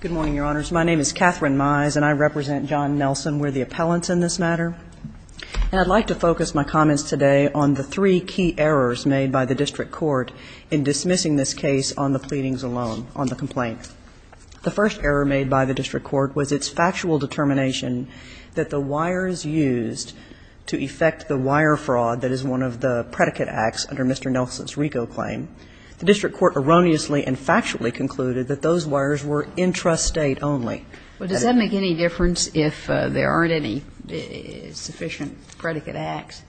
Good morning, Your Honors. My name is Katherine Mize, and I represent John Nelson. We're the appellants in this matter. And I'd like to focus my comments today on the three key errors made by the District Court in dismissing this case on the pleadings alone, on the complaint. The first error made by the District Court was its factual determination that the wires used to effect the wire fraud that is one of the predicate acts under Mr. Nelson's RICO claim. The District Court erroneously and factually concluded that those wires were intrastate only. Well, does that make any difference if there aren't any sufficient predicate acts?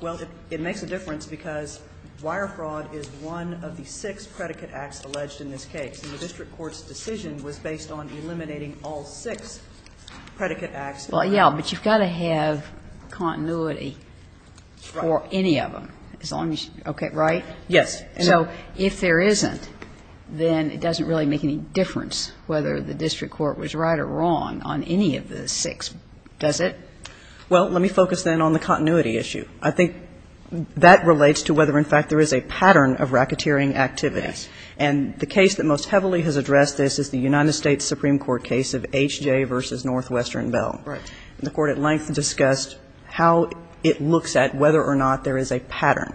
Well, it makes a difference because wire fraud is one of the six predicate acts alleged in this case, and the District Court's decision was based on eliminating all six predicate acts. Well, yeah, but you've got to have continuity for any of them, as long as you – okay, right? Yes. So if there isn't, then it doesn't really make any difference whether the District Court was right or wrong on any of the six, does it? Well, let me focus then on the continuity issue. I think that relates to whether, in fact, there is a pattern of racketeering activity. Yes. And the case that most heavily has addressed this is the United States Supreme Court case of H.J. v. Northwestern Bell. And the Court at length discussed how it looks at whether or not there is a pattern.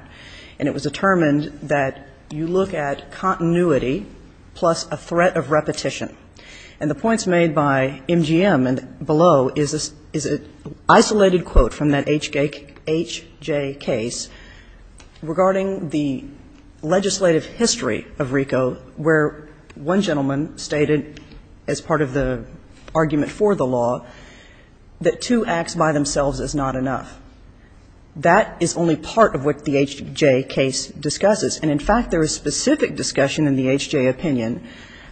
And it was determined that you look at continuity plus a threat of repetition. And the points made by MGM and below is an isolated quote from that H.J. case regarding the legislative history of RICO where one gentleman stated, as part of the argument for the law, that two acts by themselves is not enough. That is only part of what the H.J. case discusses. And, in fact, there is specific discussion in the H.J. opinion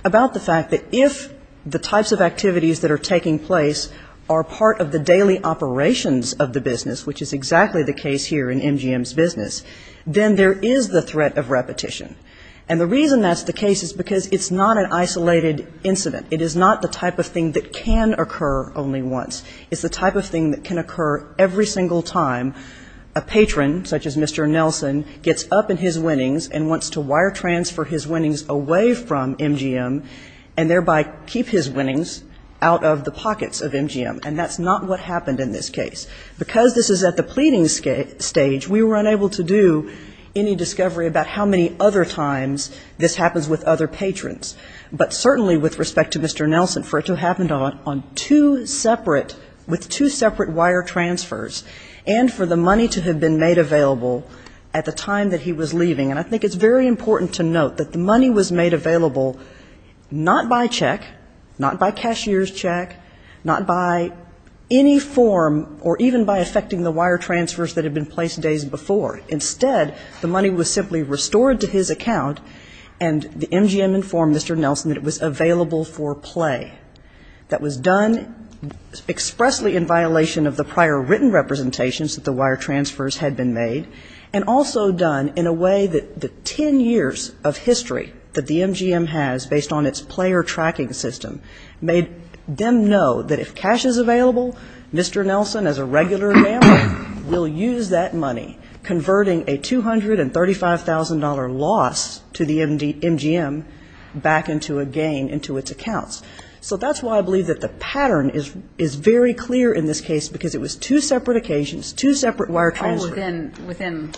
about the fact that if the types of activities that are taking place are part of the daily operations of the business, which is exactly the case here in MGM's business, then there is the threat of repetition. And the reason that's the case is because it's not an isolated incident. It is not the type of thing that can occur only once. It's the type of thing that can occur every single time a patron, such as Mr. Nelson, gets up in his winnings and wants to wire transfer his winnings away from MGM and thereby keep his winnings out of the pockets of MGM. And that's not what happened in this case. Because this is at the pleading stage, we were unable to do any discovery about how many other times this happens with other patrons. But certainly with respect to Mr. Nelson, for it to have happened on two separate with two separate wire transfers, and for the money to have been made available at the time that he was leaving, and I think it's very important to note that the money was made available not by check, not by cashier's check, not by any form or even by affecting the wire transfers that had been placed days before. Instead, the money was simply restored to his account, and the MGM informant told Mr. Nelson that it was available for play. That was done expressly in violation of the prior written representations that the wire transfers had been made, and also done in a way that the ten years of history that the MGM has based on its player tracking system made them know that if cash is available, Mr. Nelson, as a regular gambler, will use that money, converting a $235,000 loss to the MGM back into a gain into its accounts. So that's why I believe that the pattern is very clear in this case because it was two separate occasions, two separate wire transfers. Kagan. Oh, within,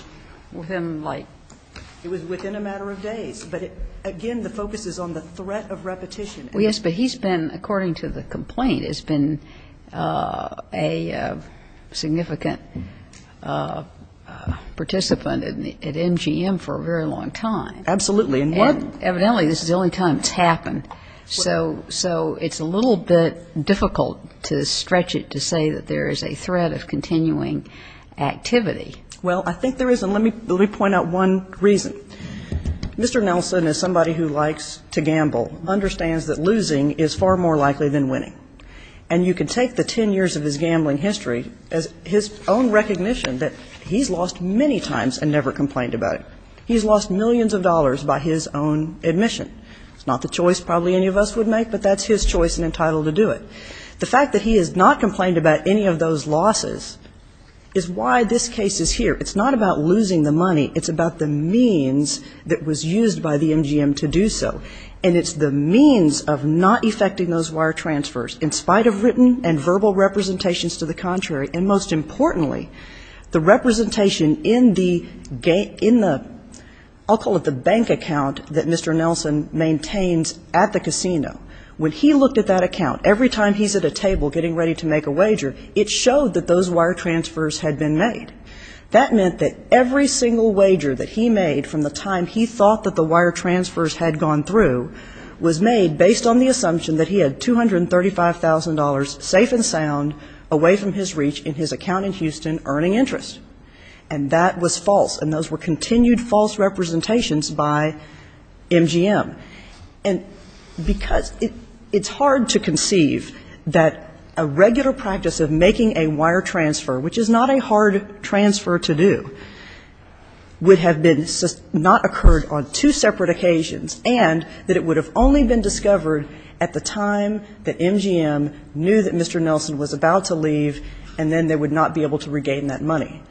within, within, like? It was within a matter of days. But, again, the focus is on the threat of repetition. Well, yes, but he's been, according to the complaint, has been a significant participant at MGM for a very long time. Absolutely. And evidently this is the only time it's happened. So it's a little bit difficult to stretch it to say that there is a threat of continuing activity. Well, I think there is, and let me point out one reason. Mr. Nelson, as somebody who likes to gamble, understands that losing is far more likely than winning. And you can take the ten years of his gambling history as his own recognition that he's lost many times and never complained about it. He's lost millions of dollars by his own admission. It's not the choice probably any of us would make, but that's his choice and entitled to do it. The fact that he has not complained about any of those losses is why this case is here. It's not about losing the money. It's about the means that was used by the MGM to do so. And it's the means of not effecting those wire transfers. In spite of written and verbal representations to the contrary, and most importantly, the representation in the, I'll call it the bank account that Mr. Nelson maintains at the casino, when he looked at that account every time he's at a table getting ready to make a wager, it showed that those wire transfers had been made. That meant that every single wager that he made from the time he thought that the wire transfers had gone through was made based on the assumption that he had $235,000 safe and sound away from his reach in his And that was false, and those were continued false representations by MGM. And because it's hard to conceive that a regular practice of making a wire transfer, which is not a hard transfer to do, would have been not occurred on two separate occasions, and that it would have only been discovered at the time that MGM knew that Mr. Nelson was about to leave and then they would not be able to regain that money.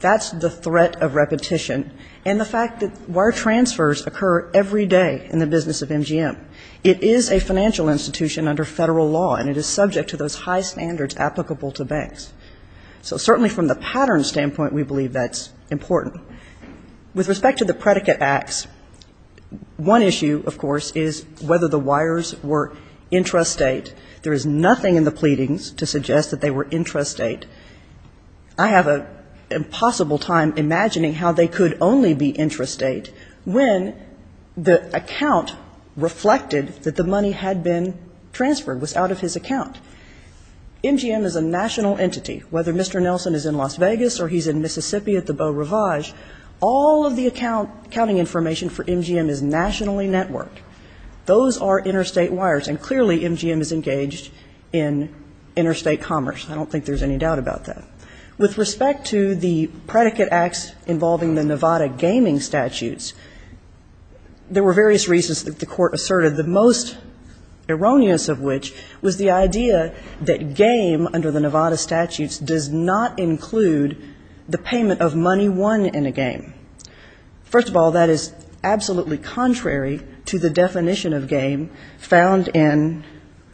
That's the threat of repetition, and the fact that wire transfers occur every day in the business of MGM. It is a financial institution under Federal law, and it is subject to those high standards applicable to banks. So certainly from the pattern standpoint, we believe that's important. With respect to the predicate acts, one issue, of course, is whether the wires were intrastate. There is nothing in the pleadings to suggest that they were intrastate. I have an impossible time imagining how they could only be intrastate when the account reflected that the money had been transferred, was out of his account. MGM is a national entity. Whether Mr. Nelson is in Las Vegas or he's in Mississippi at the Beau Ravage, all of the accounting information for MGM is nationally networked. Those are interstate wires, and clearly MGM is engaged in interstate commerce. I don't think there's any doubt about that. With respect to the predicate acts involving the Nevada gaming statutes, there were various reasons that the Court asserted, the most erroneous of which was the idea that game under the Nevada statutes does not include the payment of money won in a game. First of all, that is absolutely contrary to the definition of game found in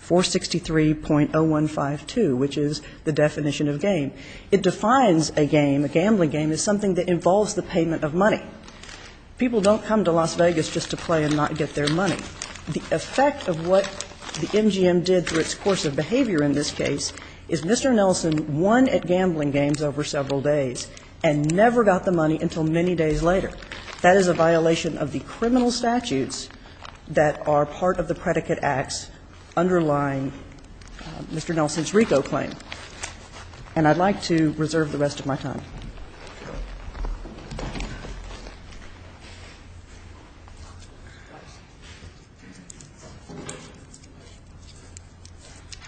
463.0152, which is the definition of game. It defines a game, a gambling game, as something that involves the payment of money. People don't come to Las Vegas just to play and not get their money. The effect of what the MGM did through its course of behavior in this case is Mr. Nelson won at gambling games over several days and never got the money until many days later. That is a violation of the criminal statutes that are part of the predicate acts underlying Mr. Nelson's RICO claim. And I'd like to reserve the rest of my time. Thank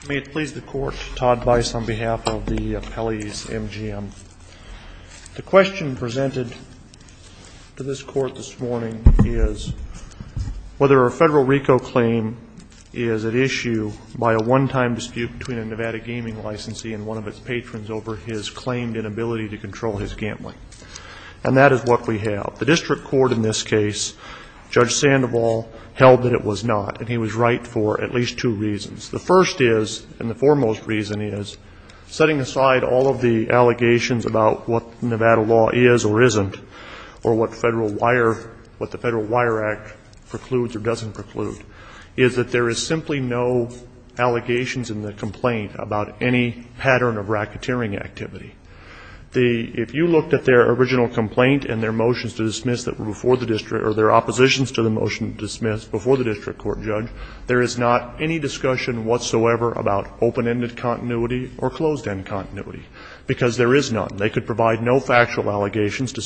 you. May it please the Court, Todd Bice on behalf of the appellees MGM. The question presented to this Court this morning is whether a Federal RICO claim is at issue by a one-time dispute between a Nevada gaming licensee and one of its patrons over his claimed inability to control his gambling. And that is what we have. The district court in this case, Judge Sandoval, held that it was not, and he was right for at least two reasons. The first is, and the foremost reason is, setting aside all of the allegations about what Nevada law is or isn't, or what Federal Wire, what the Federal Wire Act precludes or doesn't preclude, is that there is simply no allegations in the complaint about any pattern of racketeering activity. If you looked at their original complaint and their motions to dismiss that were before the district, or their oppositions to the motion to dismiss before the district court, Judge, there is not any discussion whatsoever about open-ended continuity or closed-end continuity, because there is none. They could provide no factual evidence. They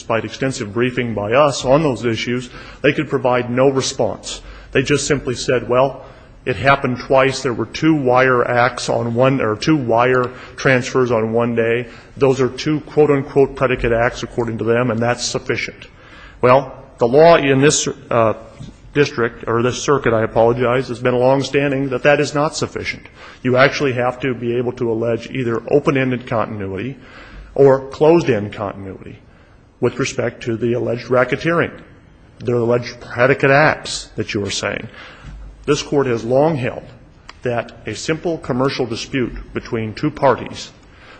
simply said, well, it happened twice. There were two wire acts on one or two wire transfers on one day. Those are two, quote, unquote, predicate acts, according to them, and that's sufficient. Well, the law in this district, or this circuit, I apologize, has been longstanding that that is not sufficient. You actually have to be able to allege either open-ended continuity or closed-end continuity with respect to the alleged racketeering, the alleged predicate acts that you are saying. This Court has long held that a simple commercial dispute between two parties,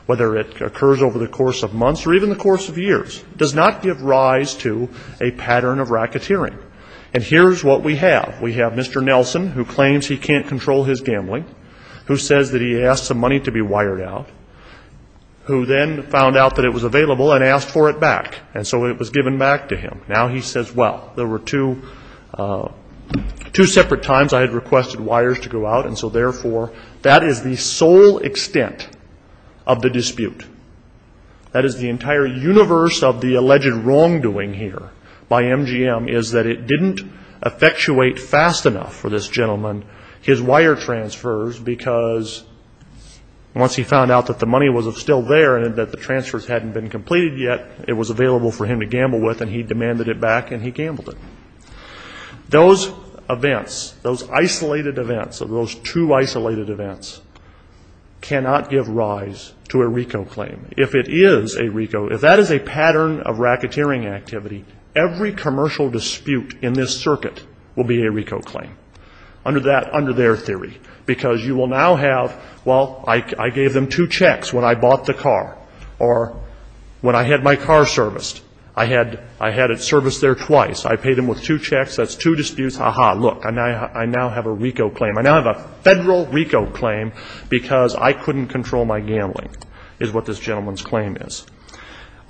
whether it occurs over the course of months or even the course of years, does not give rise to a pattern of racketeering. And here's what we have. We have Mr. Nelson who claims he can't control his gambling, who says that he asked some money to be wired out, who then found out that it was available and asked for it back, and so it was given back to him. Now he says, well, there were two separate times I had requested wires to go out, and so therefore that is the sole extent of the dispute. That is the entire universe of the alleged wrongdoing here by MGM is that it didn't effectuate fast enough for this gentleman, his wire transfers, because once he found out that the money was still there and that the transfers hadn't been completed yet, it was available for him to gamble with and he demanded it back and he gambled it. Those events, those isolated events, those two isolated events cannot give rise to a RICO claim. If it is a RICO, if that is a pattern of racketeering activity, every commercial dispute in this circuit will be a RICO claim under that, under their theory, because you will now have, well, I gave them two checks when I bought the car, or when I had my car serviced. I had it serviced there twice. I paid them with two checks. That's two disputes. Aha, look, I now have a RICO claim. I now have a Federal RICO claim because I couldn't control my gambling, is what this gentleman's claim is.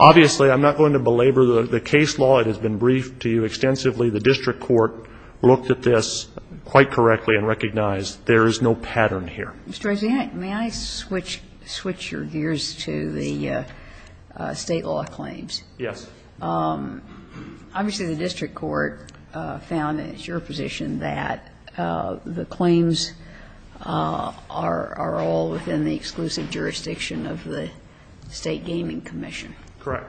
Obviously, I'm not going to belabor the case law. It has been briefed to you extensively. The district court looked at this quite correctly and recognized there is no pattern here. Ms. Dorsey, may I switch your gears to the State law claims? Yes. Obviously, the district court found, and it's your position, that the claims are all within the exclusive jurisdiction of the State Gaming Commission. Correct.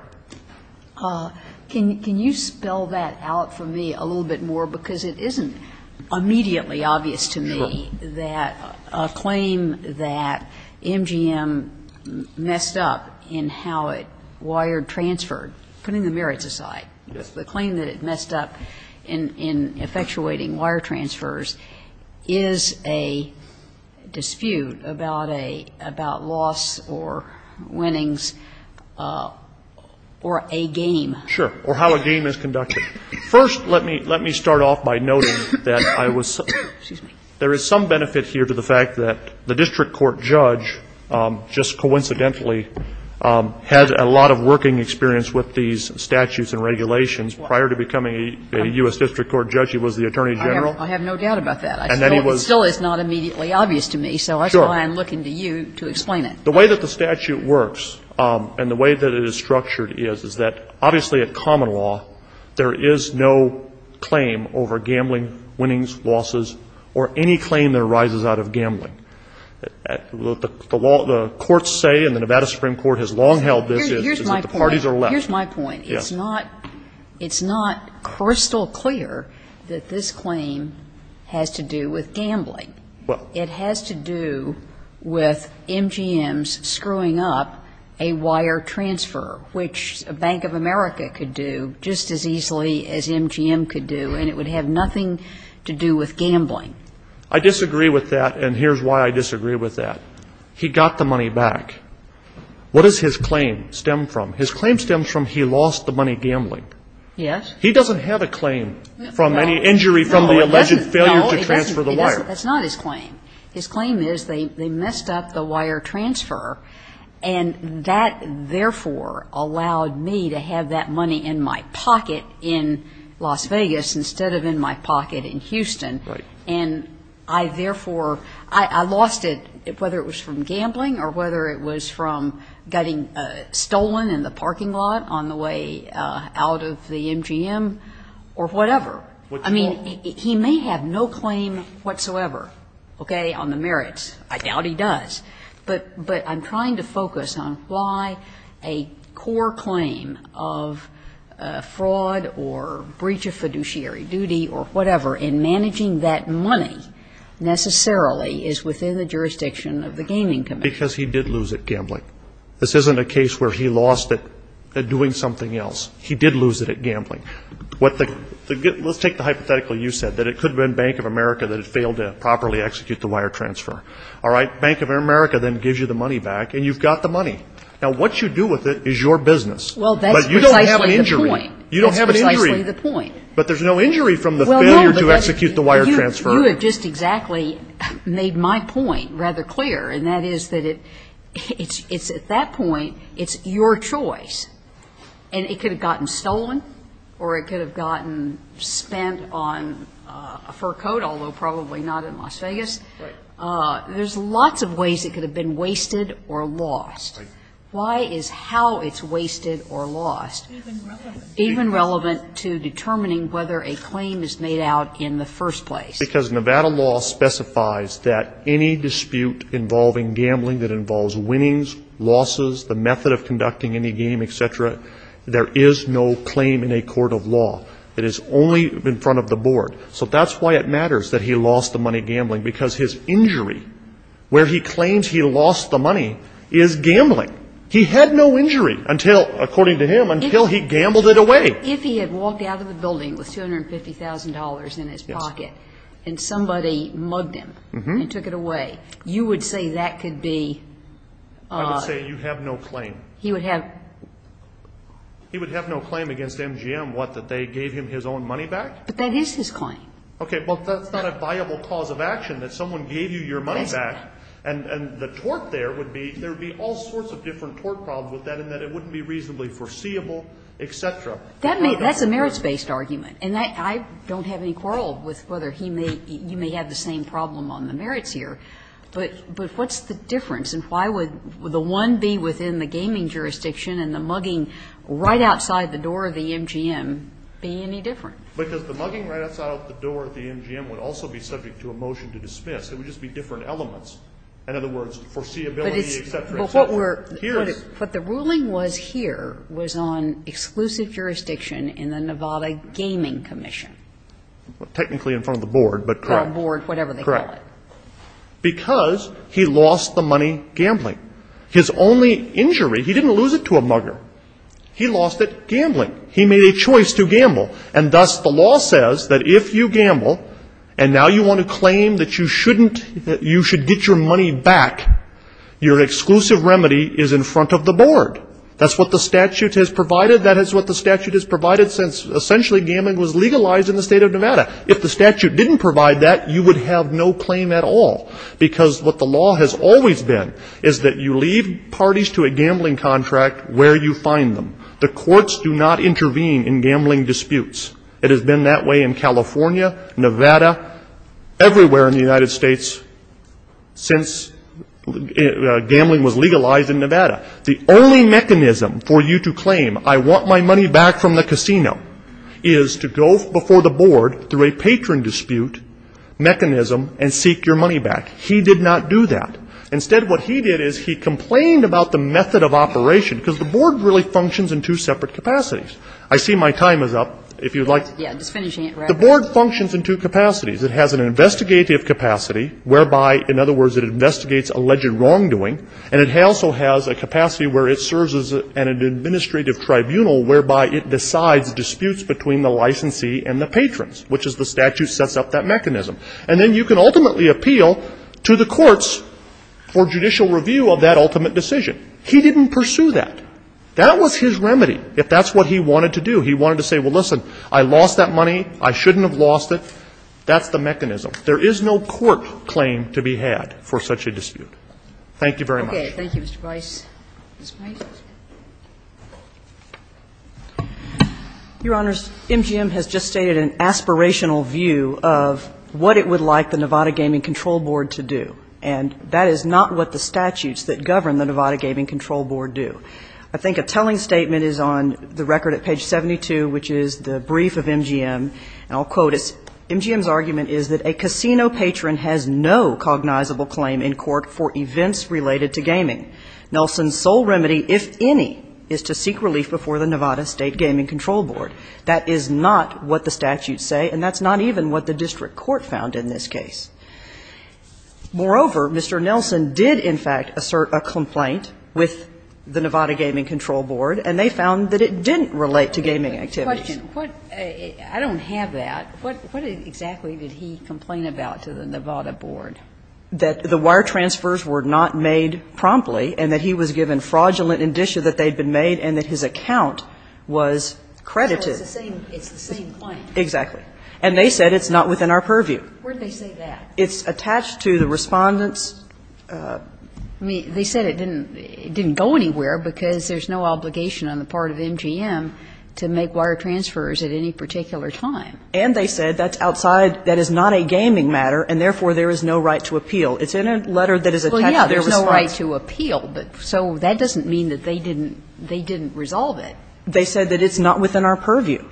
Can you spell that out for me a little bit more? Because it isn't immediately obvious to me that a claim that MGM messed up in how it wired transferred, putting the merits aside, the claim that it messed up in effectuating wire transfers is a dispute about a, about loss or winnings or a game. Sure. Or how a game is conducted. First, let me start off by noting that I was, there is some benefit here to the fact that the district court judge just coincidentally has a lot of working experience with these statutes and regulations. Prior to becoming a U.S. district court judge, he was the Attorney General. I have no doubt about that. And then he was. It still is not immediately obvious to me. Sure. So that's why I'm looking to you to explain it. The way that the statute works and the way that it is structured is, is that obviously at common law, there is no claim over gambling, winnings, losses, or any claim that arises out of gambling. The courts say, and the Nevada Supreme Court has long held this, is that the parties are left. Well, here's my point. Yes. It's not, it's not crystal clear that this claim has to do with gambling. Well. It has to do with MGM's screwing up a wire transfer, which Bank of America could do just as easily as MGM could do, and it would have nothing to do with gambling. I disagree with that, and here's why I disagree with that. He got the money back. What does his claim stem from? His claim stems from he lost the money gambling. Yes. He doesn't have a claim from any injury from the alleged failure to transfer the wire. No, he doesn't. That's not his claim. His claim is they messed up the wire transfer, and that therefore allowed me to have that money in my pocket in Las Vegas instead of in my pocket in Houston. Right. And I therefore, I lost it whether it was from gambling or whether it was from getting stolen in the parking lot on the way out of the MGM or whatever. I mean, he may have no claim whatsoever, okay, on the merits. I doubt he does. But I'm trying to focus on why a core claim of fraud or breach of fiduciary duty or whatever in managing that money necessarily is within the jurisdiction of the Gaming Commission. Because he did lose it gambling. This isn't a case where he lost it doing something else. He did lose it at gambling. Let's take the hypothetical you said, that it could have been Bank of America that had failed to properly execute the wire transfer. All right. Bank of America then gives you the money back, and you've got the money. Now, what you do with it is your business. Well, that's precisely the point. But you don't have an injury. That's precisely the point. But there's no injury from the failure to execute the wire transfer. But you have just exactly made my point rather clear, and that is that it's at that point, it's your choice. And it could have gotten stolen or it could have gotten spent on a fur coat, although probably not in Las Vegas. Right. There's lots of ways it could have been wasted or lost. Right. Why is how it's wasted or lost even relevant to determining whether a claim is made out in the first place? Because Nevada law specifies that any dispute involving gambling that involves winnings, losses, the method of conducting any game, et cetera, there is no claim in a court of law. It is only in front of the board. So that's why it matters that he lost the money gambling, because his injury, where he claims he lost the money, is gambling. He had no injury until, according to him, until he gambled it away. But if he had walked out of the building with $250,000 in his pocket and somebody mugged him and took it away, you would say that could be? I would say you have no claim. He would have? He would have no claim against MGM, what, that they gave him his own money back? But that is his claim. Okay. Well, that's not a viable cause of action, that someone gave you your money back. And the tort there would be, there would be all sorts of different tort problems with that in that it wouldn't be reasonably foreseeable, et cetera. That's a merits-based argument. And I don't have any quarrel with whether he may, you may have the same problem on the merits here. But what's the difference? And why would the one be within the gaming jurisdiction and the mugging right outside the door of the MGM be any different? Because the mugging right outside of the door of the MGM would also be subject to a motion to dismiss. It would just be different elements. In other words, foreseeability, et cetera, et cetera. But the ruling was here, was on exclusive jurisdiction in the Nevada Gaming Commission. Technically in front of the board, but correct. Or board, whatever they call it. Correct. Because he lost the money gambling. His only injury, he didn't lose it to a mugger. He lost it gambling. He made a choice to gamble. And thus the law says that if you gamble and now you want to claim that you shouldn't you should get your money back, your exclusive remedy is in front of the board. That's what the statute has provided. That is what the statute has provided since essentially gambling was legalized in the State of Nevada. If the statute didn't provide that, you would have no claim at all. Because what the law has always been is that you leave parties to a gambling contract where you find them. The courts do not intervene in gambling disputes. It has been that way in California, Nevada, everywhere in the United States since gambling was legalized in Nevada. The only mechanism for you to claim I want my money back from the casino is to go before the board through a patron dispute mechanism and seek your money back. He did not do that. Instead what he did is he complained about the method of operation. Because the board really functions in two separate capacities. I see my time is up. If you would like. The board functions in two capacities. It has an investigative capacity whereby, in other words, it investigates alleged wrongdoing. And it also has a capacity where it serves as an administrative tribunal whereby it decides disputes between the licensee and the patrons, which is the statute sets up that mechanism. And then you can ultimately appeal to the courts for judicial review of that ultimate decision. He didn't pursue that. That was his remedy. If that's what he wanted to do, he wanted to say, well, listen, I lost that money. I shouldn't have lost it. That's the mechanism. There is no court claim to be had for such a dispute. Thank you very much. Kagan. Thank you, Mr. Price. Ms. Price. Your Honors, MGM has just stated an aspirational view of what it would like the Nevada Gaming Control Board to do. And that is not what the statutes that govern the Nevada Gaming Control Board do. I think a telling statement is on the record at page 72, which is the brief of MGM, and I'll quote it. MGM's argument is that a casino patron has no cognizable claim in court for events related to gaming. Nelson's sole remedy, if any, is to seek relief before the Nevada State Gaming Control Board. That is not what the statutes say, and that's not even what the district court found in this case. Moreover, Mr. Nelson did, in fact, assert a complaint with the Nevada Gaming Control Board, and they found that it didn't relate to gaming activities. I don't have that. What exactly did he complain about to the Nevada Board? That the wire transfers were not made promptly and that he was given fraudulent indicia that they had been made and that his account was credited. It's the same claim. Exactly. And they said it's not within our purview. Where did they say that? It's attached to the Respondent's. I mean, they said it didn't go anywhere because there's no obligation on the part of MGM to make wire transfers at any particular time. And they said that's outside, that is not a gaming matter, and therefore, there is no right to appeal. It's in a letter that is attached to their response. Well, yeah, there's no right to appeal, but so that doesn't mean that they didn't resolve it. They said that it's not within our purview.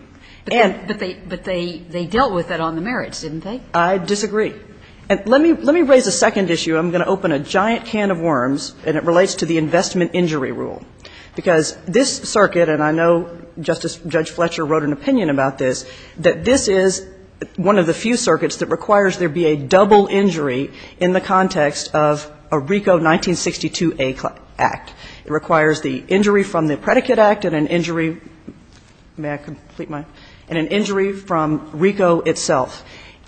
But they dealt with it on the merits, didn't they? I disagree. And let me raise a second issue. I'm going to open a giant can of worms, and it relates to the investment injury rule. Because this circuit, and I know Justice Judge Fletcher wrote an opinion about this, that this is one of the few circuits that requires there be a double injury in the context of a RICO 1962A Act. It requires the injury from the Predicate Act and an injury – may I complete my – and an injury from RICO itself.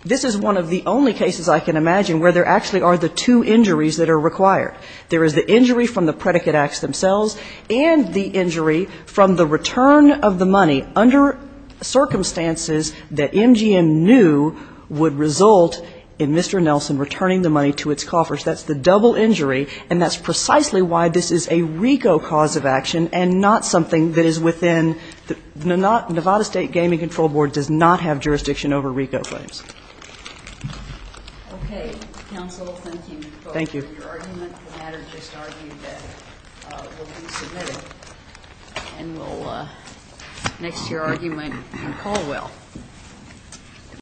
This is one of the only cases I can imagine where there actually are the two injuries that are required. There is the injury from the Predicate Acts themselves and the injury from the return of the money under circumstances that MGM knew would result in Mr. Nelson returning the money to its coffers. That's the double injury, and that's precisely why this is a RICO cause of action and not something that is within – the Nevada State Gaming Control Board does not have jurisdiction over RICO claims. GOTTLIEB Okay. Counsel, thank you for your argument. The matter just argued that it will be submitted. MS.